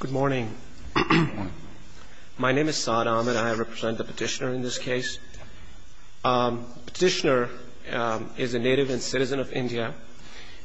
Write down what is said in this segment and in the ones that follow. Good morning. My name is Saad Ahmed. I represent the petitioner in this case. Petitioner is a native and citizen of India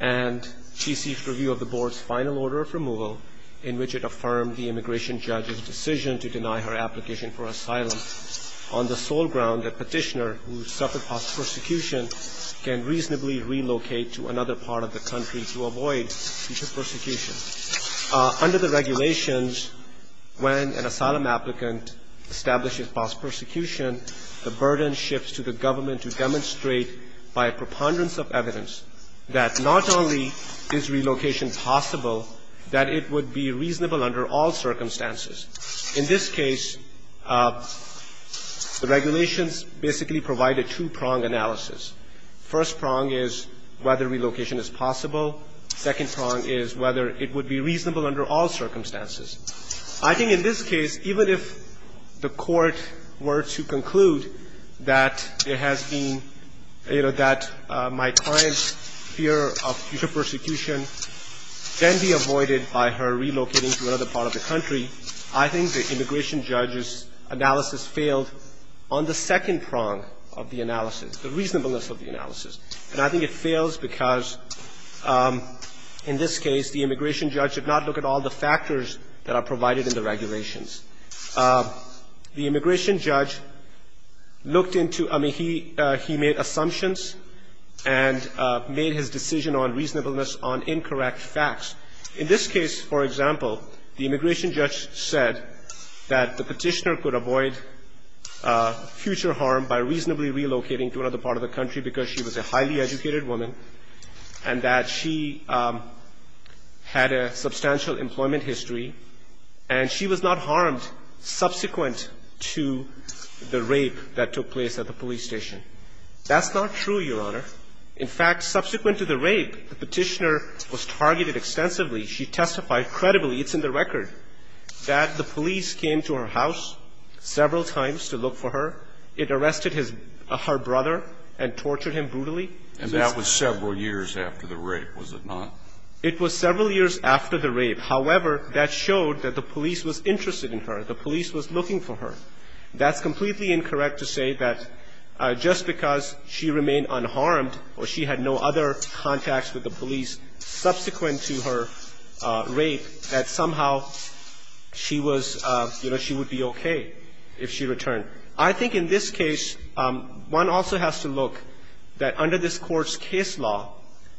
and she seeks review of the board's final order of removal in which it affirmed the immigration judge's decision to deny her application for asylum on the sole ground that petitioner who suffered prosecution can reasonably relocate to another part of the country to avoid future persecution. Under the regulations, when an asylum applicant establishes false persecution, the burden shifts to the government to demonstrate by a preponderance of evidence that not only is relocation possible, that it would be reasonable under all circumstances. In this case, the regulations basically provide a two-prong analysis. First prong is whether relocation is possible. Second prong is whether it would be reasonable under all circumstances. I think in this case, even if the court were to conclude that it has been, you know, that my client's fear of future persecution can be avoided by her relocating to another part of the country, I think the immigration judge's analysis failed on the second prong of the analysis, the reasonableness of the analysis. And I think it fails because in this case, the immigration judge did not look at all the factors that are provided in the regulations. The immigration judge looked into, I mean, he made assumptions and made his decision on reasonableness on incorrect facts. In this case, for example, the immigration judge said that the petitioner could avoid future harm by reasonably relocating to another part of the country because she was a highly educated woman and that she had a substantial employment history and she was not harmed subsequent to the rape that took place at the police station. That's not true, Your Honor. In fact, subsequent to the rape, the petitioner was targeted extensively. She testified credibly, it's in the record, that the police came to her house several times to look for her. It arrested her brother and tortured him brutally. And that was several years after the rape, was it not? It was several years after the rape. However, that showed that the police was interested in her. The police was looking for her. That's completely incorrect to say that just because she remained unharmed or she had no other contacts with the police subsequent to her rape that somehow she was, you know, she would be okay if she returned. I think in this case, one also has to look that under this Court's case law,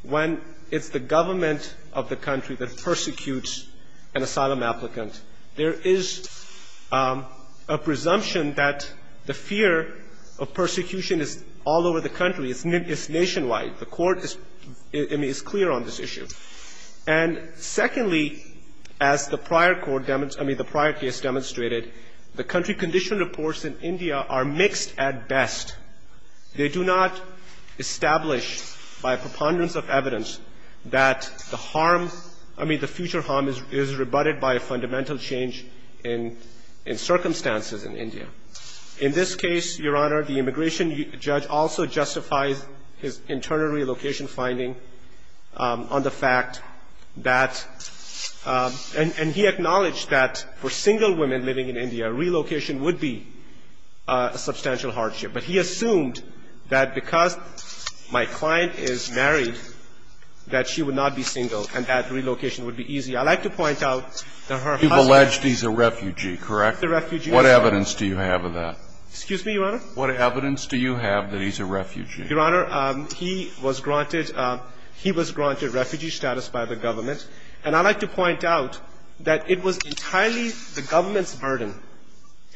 when it's the government of the country that persecutes an asylum applicant, there is a presumption that the fear of persecution is all over the country. It's nationwide. The Court is clear on this issue. And secondly, as the prior Court demonstrated, I mean, the prior case demonstrated, the country condition reports in India are mixed at best. They do not establish by preponderance of evidence that the harm, I mean, the future harm is rebutted by a fundamental change in circumstances in India. In this case, Your Honor, the immigration judge also justifies his internal relocation finding on the fact that And he acknowledged that for single women living in India, relocation would be a substantial hardship. But he assumed that because my client is married, that she would not be single and that relocation would be easy. I'd like to point out that her husband ---- You've alleged he's a refugee, correct? He's a refugee, Your Honor. What evidence do you have of that? Excuse me, Your Honor? What evidence do you have that he's a refugee? Your Honor, he was granted refugee status by the government. And I'd like to point out that it was entirely the government's burden.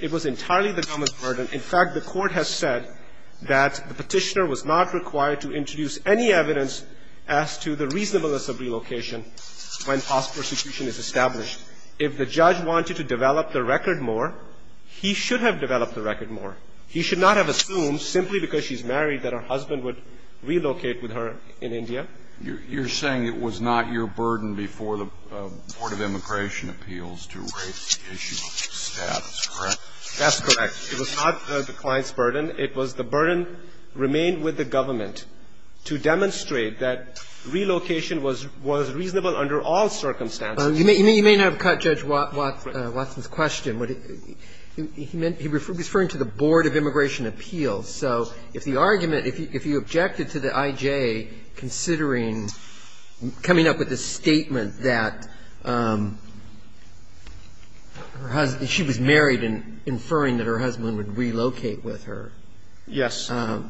It was entirely the government's burden. In fact, the Court has said that the Petitioner was not required to introduce any evidence as to the reasonableness of relocation when false prosecution is established. If the judge wanted to develop the record more, he should have developed the record more. He should not have assumed simply because she's married that her husband would relocate with her in India. You're saying it was not your burden before the Board of Immigration Appeals to raise the issue of status, correct? That's correct. It was not the client's burden. It was the burden remained with the government to demonstrate that relocation was reasonable under all circumstances. You may not have caught Judge Watson's question. He's referring to the Board of Immigration Appeals. So if the argument, if you objected to the I.J. considering coming up with a statement that her husband, she was married and inferring that her husband would relocate with her. Yes. That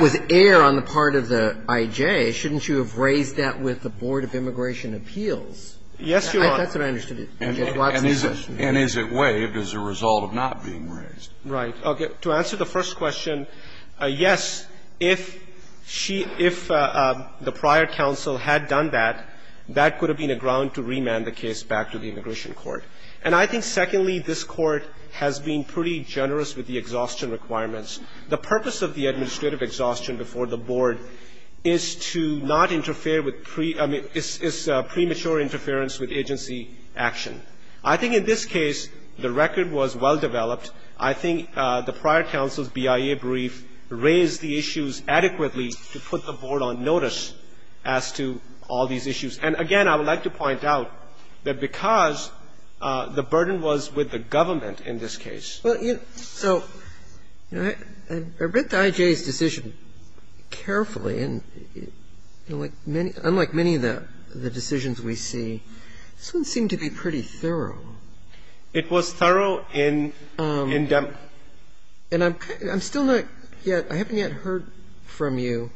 was air on the part of the I.J. Shouldn't you have raised that with the Board of Immigration Appeals? Yes, Your Honor. That's what I understood. And Judge Watson's question. And is it waived as a result of not being raised? Right. To answer the first question, yes. If she, if the prior counsel had done that, that could have been a ground to remand the case back to the immigration court. And I think, secondly, this Court has been pretty generous with the exhaustion requirements. The purpose of the administrative exhaustion before the Board is to not interfere with, I mean, it's premature interference with agency action. I think in this case, the record was well developed. I think the prior counsel's BIA brief raised the issues adequately to put the Board on notice as to all these issues. And, again, I would like to point out that because the burden was with the government in this case. Well, you know, so I read the I.J.'s decision carefully. And unlike many of the decisions we see, this one seemed to be pretty thorough. It was thorough in them. And I'm still not yet, I haven't yet heard from you.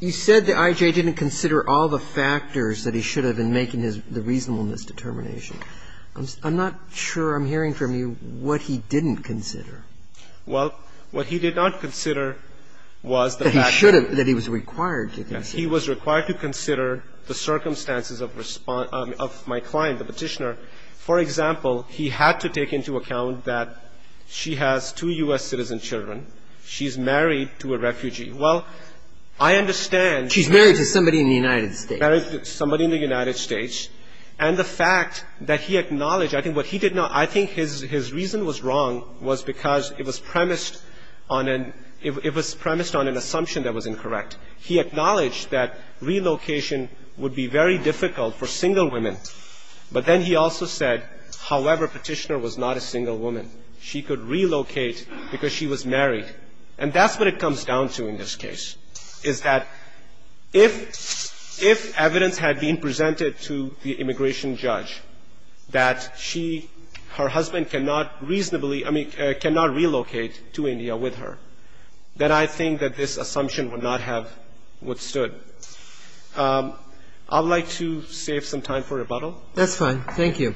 You said the I.J. didn't consider all the factors that he should have in making his, the reasonableness determination. I'm not sure I'm hearing from you what he didn't consider. Well, what he did not consider was the fact that he was required to consider. He was required to consider the circumstances of response, of my client, the Petitioner. For example, he had to take into account that she has two U.S. citizen children. She's married to a refugee. Well, I understand. She's married to somebody in the United States. Married to somebody in the United States. And the fact that he acknowledged, I think what he did not, I think his reason was wrong was because it was premised on an assumption that was incorrect. He acknowledged that relocation would be very difficult for single women. But then he also said, however, Petitioner was not a single woman. She could relocate because she was married. And that's what it comes down to in this case, is that if evidence had been presented to the immigration judge that she, her husband cannot reasonably, I mean, cannot relocate to India with her, that I think that this assumption would not have withstood. I would like to save some time for rebuttal. That's fine. Thank you.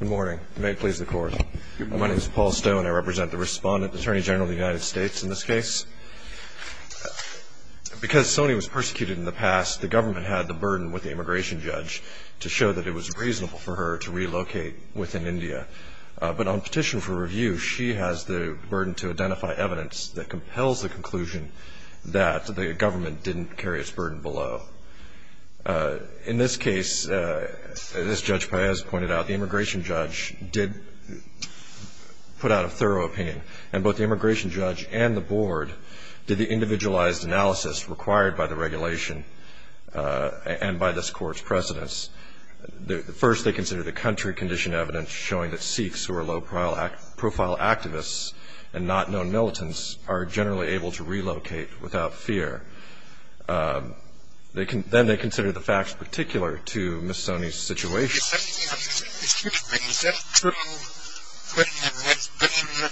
Good morning. May it please the Court. Good morning. My name is Paul Stone. I represent the Respondent, Attorney General of the United States in this case. Because Soni was persecuted in the past, the government had the burden with the immigration judge to show that it was reasonable for her to relocate within India. But on petition for review, she has the burden to identify evidence that compels the conclusion that the government didn't carry its burden below. In this case, as Judge Paez pointed out, the immigration judge did put out a thorough opinion. And both the immigration judge and the board did the individualized analysis required by the regulation and by this Court's precedence. First, they considered the country condition evidence showing that Sikhs, who are low-profile activists and not known militants, are generally able to relocate without fear. Then they considered the facts particular to Ms. Soni's situation. Excuse me. Is that true when there's been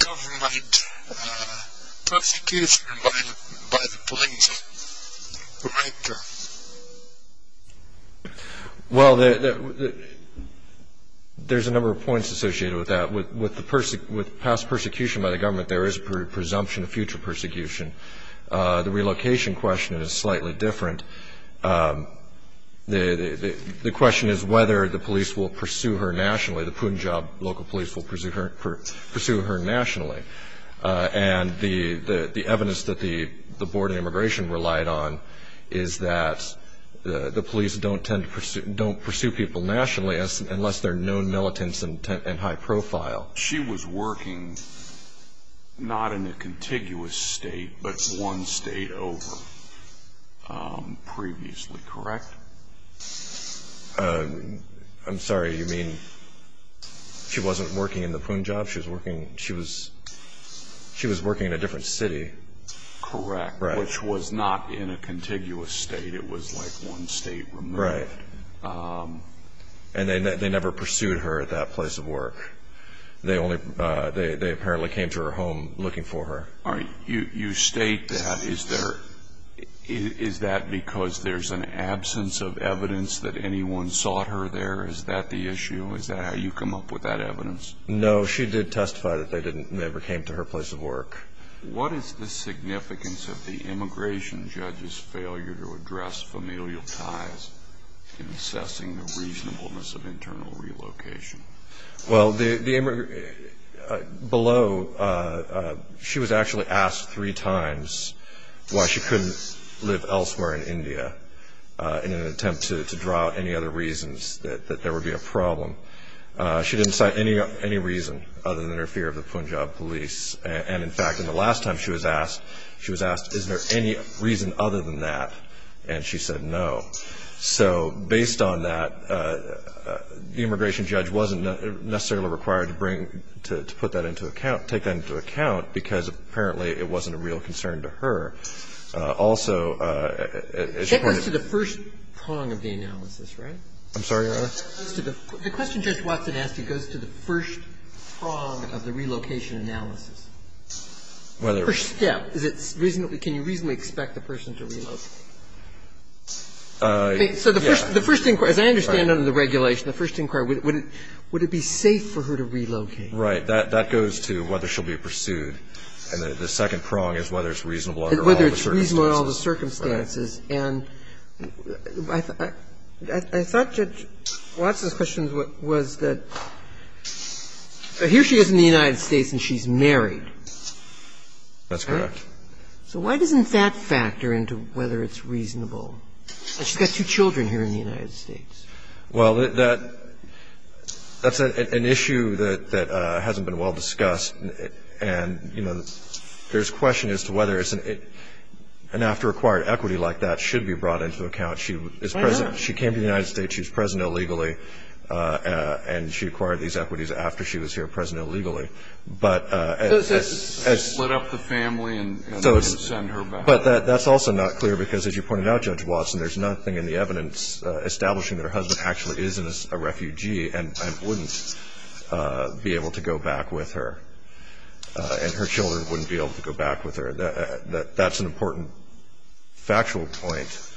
government persecution by the police right there? Well, there's a number of points associated with that. With past persecution by the government, there is presumption of future persecution. The relocation question is slightly different. The question is whether the police will pursue her nationally, the Punjab local police will pursue her nationally. And the evidence that the Board of Immigration relied on is that the police don't tend to pursue people nationally unless they're known militants and high-profile. She was working not in a contiguous state but one state over previously, correct? I'm sorry. You mean she wasn't working in the Punjab? She was working in a different city. Correct, which was not in a contiguous state. It was like one state removed. Right. And they never pursued her at that place of work. They apparently came to her home looking for her. You state that. Is that because there's an absence of evidence that anyone sought her there? Is that the issue? Is that how you come up with that evidence? No, she did testify that they never came to her place of work. What is the significance of the immigration judge's failure to address familial ties in assessing the reasonableness of internal relocation? Well, below, she was actually asked three times why she couldn't live elsewhere in India in an attempt to draw any other reasons that there would be a problem. She didn't cite any reason other than her fear of the Punjab police. And, in fact, in the last time she was asked, she was asked, is there any reason other than that, and she said no. So based on that, the immigration judge wasn't necessarily required to bring to put that into account, take that into account, because apparently it wasn't a real concern to her. Also, as you pointed out to the first prong of the analysis, right? I'm sorry, Your Honor? The question Judge Watson asked you goes to the first prong of the relocation analysis. First step, can you reasonably expect the person to relocate? So the first inquiry, as I understand under the regulation, the first inquiry, would it be safe for her to relocate? Right. That goes to whether she'll be pursued. And the second prong is whether it's reasonable under all the circumstances. Whether it's reasonable under all the circumstances. And I thought Judge Watson's question was that here she is in the United States and she's married. That's correct. So why doesn't that factor into whether it's reasonable? She's got two children here in the United States. Well, that's an issue that hasn't been well discussed. And, you know, there's a question as to whether an after-acquired equity like that should be brought into account. She is present. She came to the United States. She's present illegally. And she acquired these equities after she was here, present illegally. But as you said. Split up the family and send her back. But that's also not clear because as you pointed out, Judge Watson, there's nothing in the evidence establishing that her husband actually is a refugee and wouldn't be able to go back with her. And her children wouldn't be able to go back with her. That's an important factual point.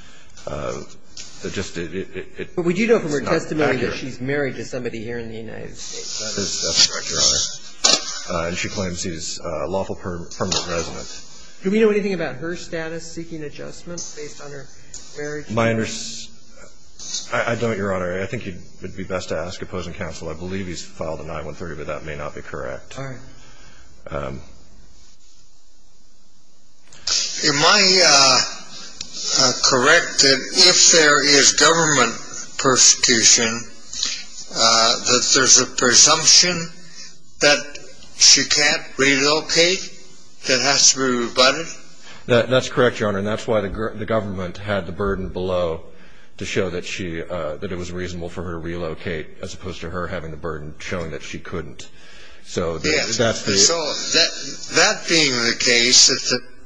It just is not accurate. But we do know from her testimony that she's married to somebody here in the United States. That's correct, Your Honor. And she claims he's a lawful permanent resident. Do we know anything about her status seeking adjustments based on her marriage? I don't, Your Honor. I think it would be best to ask opposing counsel. I believe he's filed a 9-1-30, but that may not be correct. All right. Am I correct that if there is government persecution, that there's a presumption that she can't relocate that has to be rebutted? That's correct, Your Honor. And that's why the government had the burden below to show that it was reasonable for her to relocate as opposed to her having the burden showing that she couldn't. Yes. So that being the case, that the government's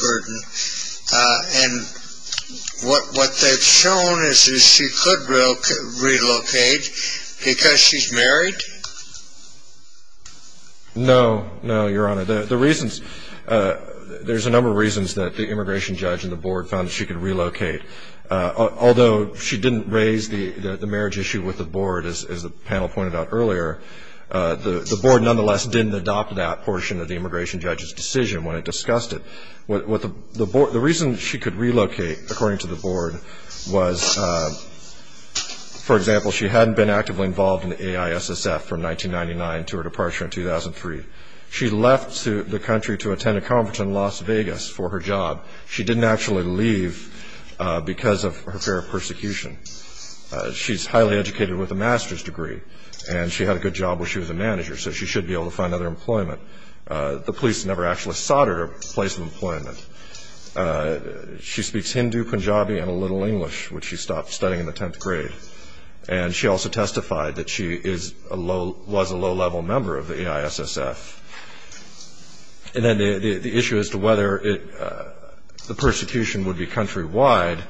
burden, and what they've shown is that she could relocate because she's married? No. No, Your Honor. There's a number of reasons that the immigration judge and the board found that she could relocate. Although she didn't raise the marriage issue with the board, as the panel pointed out earlier, the board nonetheless didn't adopt that portion of the immigration judge's decision when it discussed it. The reason she could relocate, according to the board, was, for example, she hadn't been actively involved in the AISSF from 1999 to her departure in 2003. She left the country to attend a conference in Las Vegas for her job. She didn't actually leave because of her fear of persecution. She's highly educated with a master's degree, and she had a good job when she was a manager, so she should be able to find other employment. The police never actually sought her a place of employment. She speaks Hindu, Punjabi, and a little English, which she stopped studying in the 10th grade. And she also testified that she was a low-level member of the AISSF. And then the issue as to whether the persecution would be countrywide,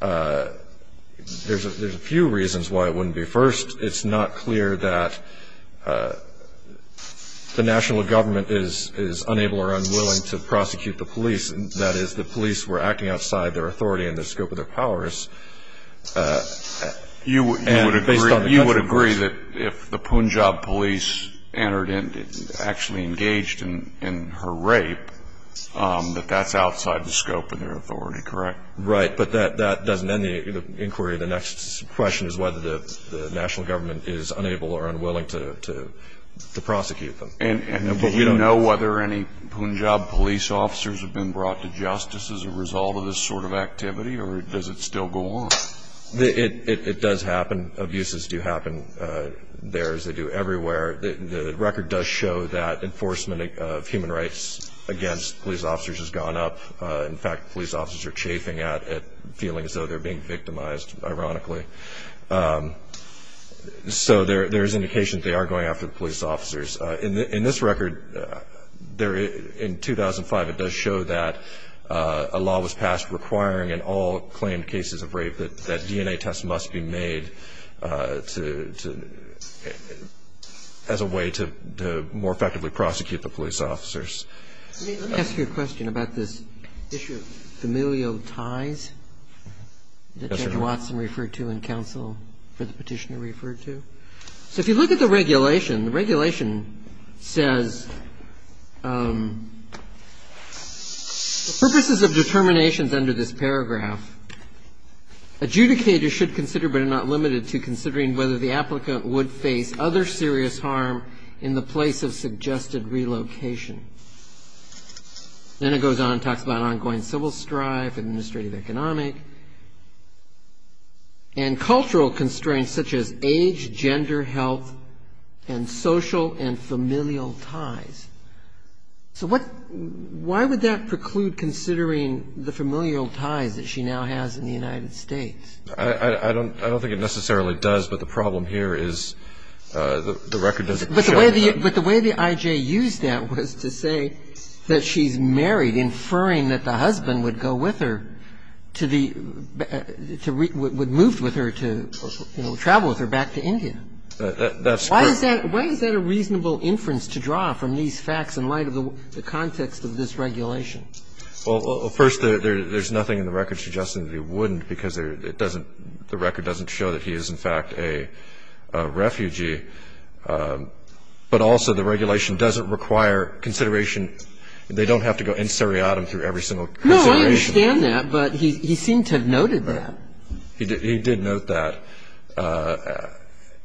there's a few reasons why it wouldn't be. First, it's not clear that the national government is unable or unwilling to prosecute the police. That is, the police were acting outside their authority and the scope of their powers. You would agree that if the Punjab police actually engaged in her rape, that that's outside the scope of their authority, correct? Right, but that doesn't end the inquiry. The next question is whether the national government is unable or unwilling to prosecute them. And do you know whether any Punjab police officers have been brought to justice as a result of this sort of activity, or does it still go on? It does happen. Abuses do happen there, as they do everywhere. The record does show that enforcement of human rights against police officers has gone up. In fact, police officers are chafing at it, feeling as though they're being victimized, ironically. So there is indication that they are going after the police officers. In this record, in 2005, it does show that a law was passed requiring in all claimed cases of rape that DNA tests must be made as a way to more effectively prosecute the police officers. Let me ask you a question about this issue of familial ties that Judge Watson referred to in counsel for the petitioner referred to. So if you look at the regulation, the regulation says the purposes of determinations under this paragraph adjudicate or should consider but are not limited to considering whether the applicant would face other serious harm in the place of suggested relocation. Then it goes on and talks about ongoing civil strife and administrative economic and cultural constraints such as age, gender, health, and social and familial ties. So what why would that preclude considering the familial ties that she now has in the United States? I don't think it necessarily does, but the problem here is the record doesn't show that. But the way the I.J. used that was to say that she's married, inferring that the husband would go with her to the, would move with her to, you know, travel with her back to India. That's correct. Why is that a reasonable inference to draw from these facts in light of the context of this regulation? Well, first, there's nothing in the record suggesting that he wouldn't because it doesn't, the record doesn't show that he is, in fact, a refugee. But also, the regulation doesn't require consideration. They don't have to go in seriatim through every single consideration. No, I understand that, but he seemed to have noted that. He did note that.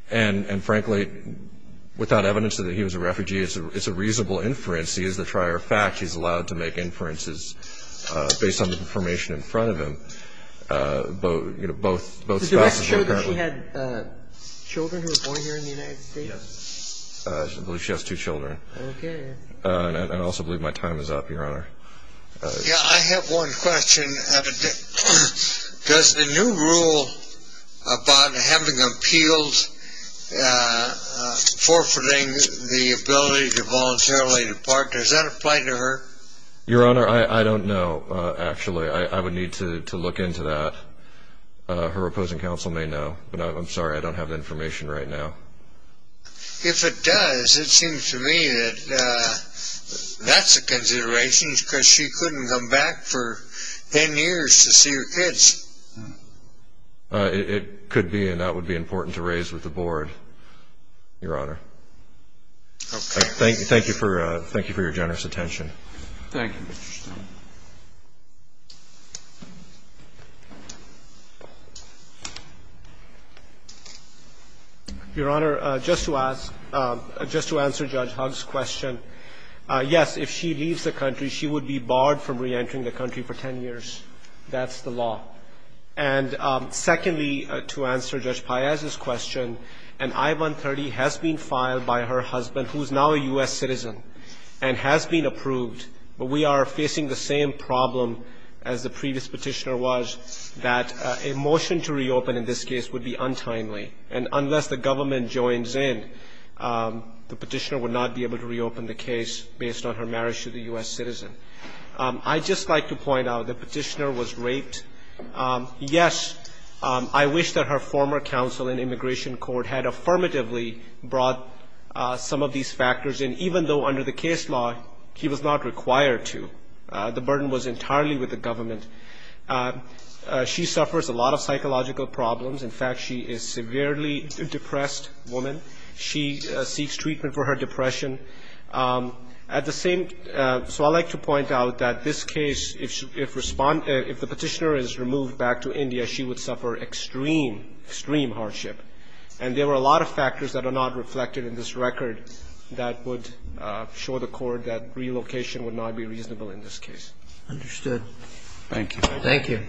And, frankly, without evidence that he was a refugee, it's a reasonable inference. He is the trier of fact. He's allowed to make inferences based on the information in front of him. Both, you know, both spouses were apparently. She had children who were born here in the United States? Yes. I believe she has two children. Okay. And I also believe my time is up, Your Honor. Yeah, I have one question. Does the new rule about having appeals forfeiting the ability to voluntarily depart, does that apply to her? Your Honor, I don't know, actually. I would need to look into that. Her opposing counsel may know. But I'm sorry, I don't have the information right now. If it does, it seems to me that that's a consideration because she couldn't come back for ten years to see her kids. It could be, and that would be important to raise with the Board, Your Honor. Okay. Thank you for your generous attention. Thank you, Mr. Stern. Your Honor, just to ask, just to answer Judge Hugg's question, yes, if she leaves the country, she would be barred from reentering the country for ten years. That's the law. And secondly, to answer Judge Paez's question, an I-130 has been filed by her husband who is now a U.S. citizen and has been approved, but we are facing the same problem as the previous petitioner was, that a motion to reopen in this case would be untimely. And unless the government joins in, the petitioner would not be able to reopen the case based on her marriage to the U.S. citizen. I'd just like to point out the petitioner was raped. Yes, I wish that her former counsel in immigration court had affirmatively brought some of these factors in, even though under the case law he was not required to. The burden was entirely with the government. She suffers a lot of psychological problems. In fact, she is a severely depressed woman. She seeks treatment for her depression. At the same – so I'd like to point out that this case, if the petitioner is removed back to India, she would suffer extreme, extreme hardship. And there were a lot of factors that are not reflected in this record that would show the Court that relocation would not be reasonable in this case. Understood. Thank you. Thank you.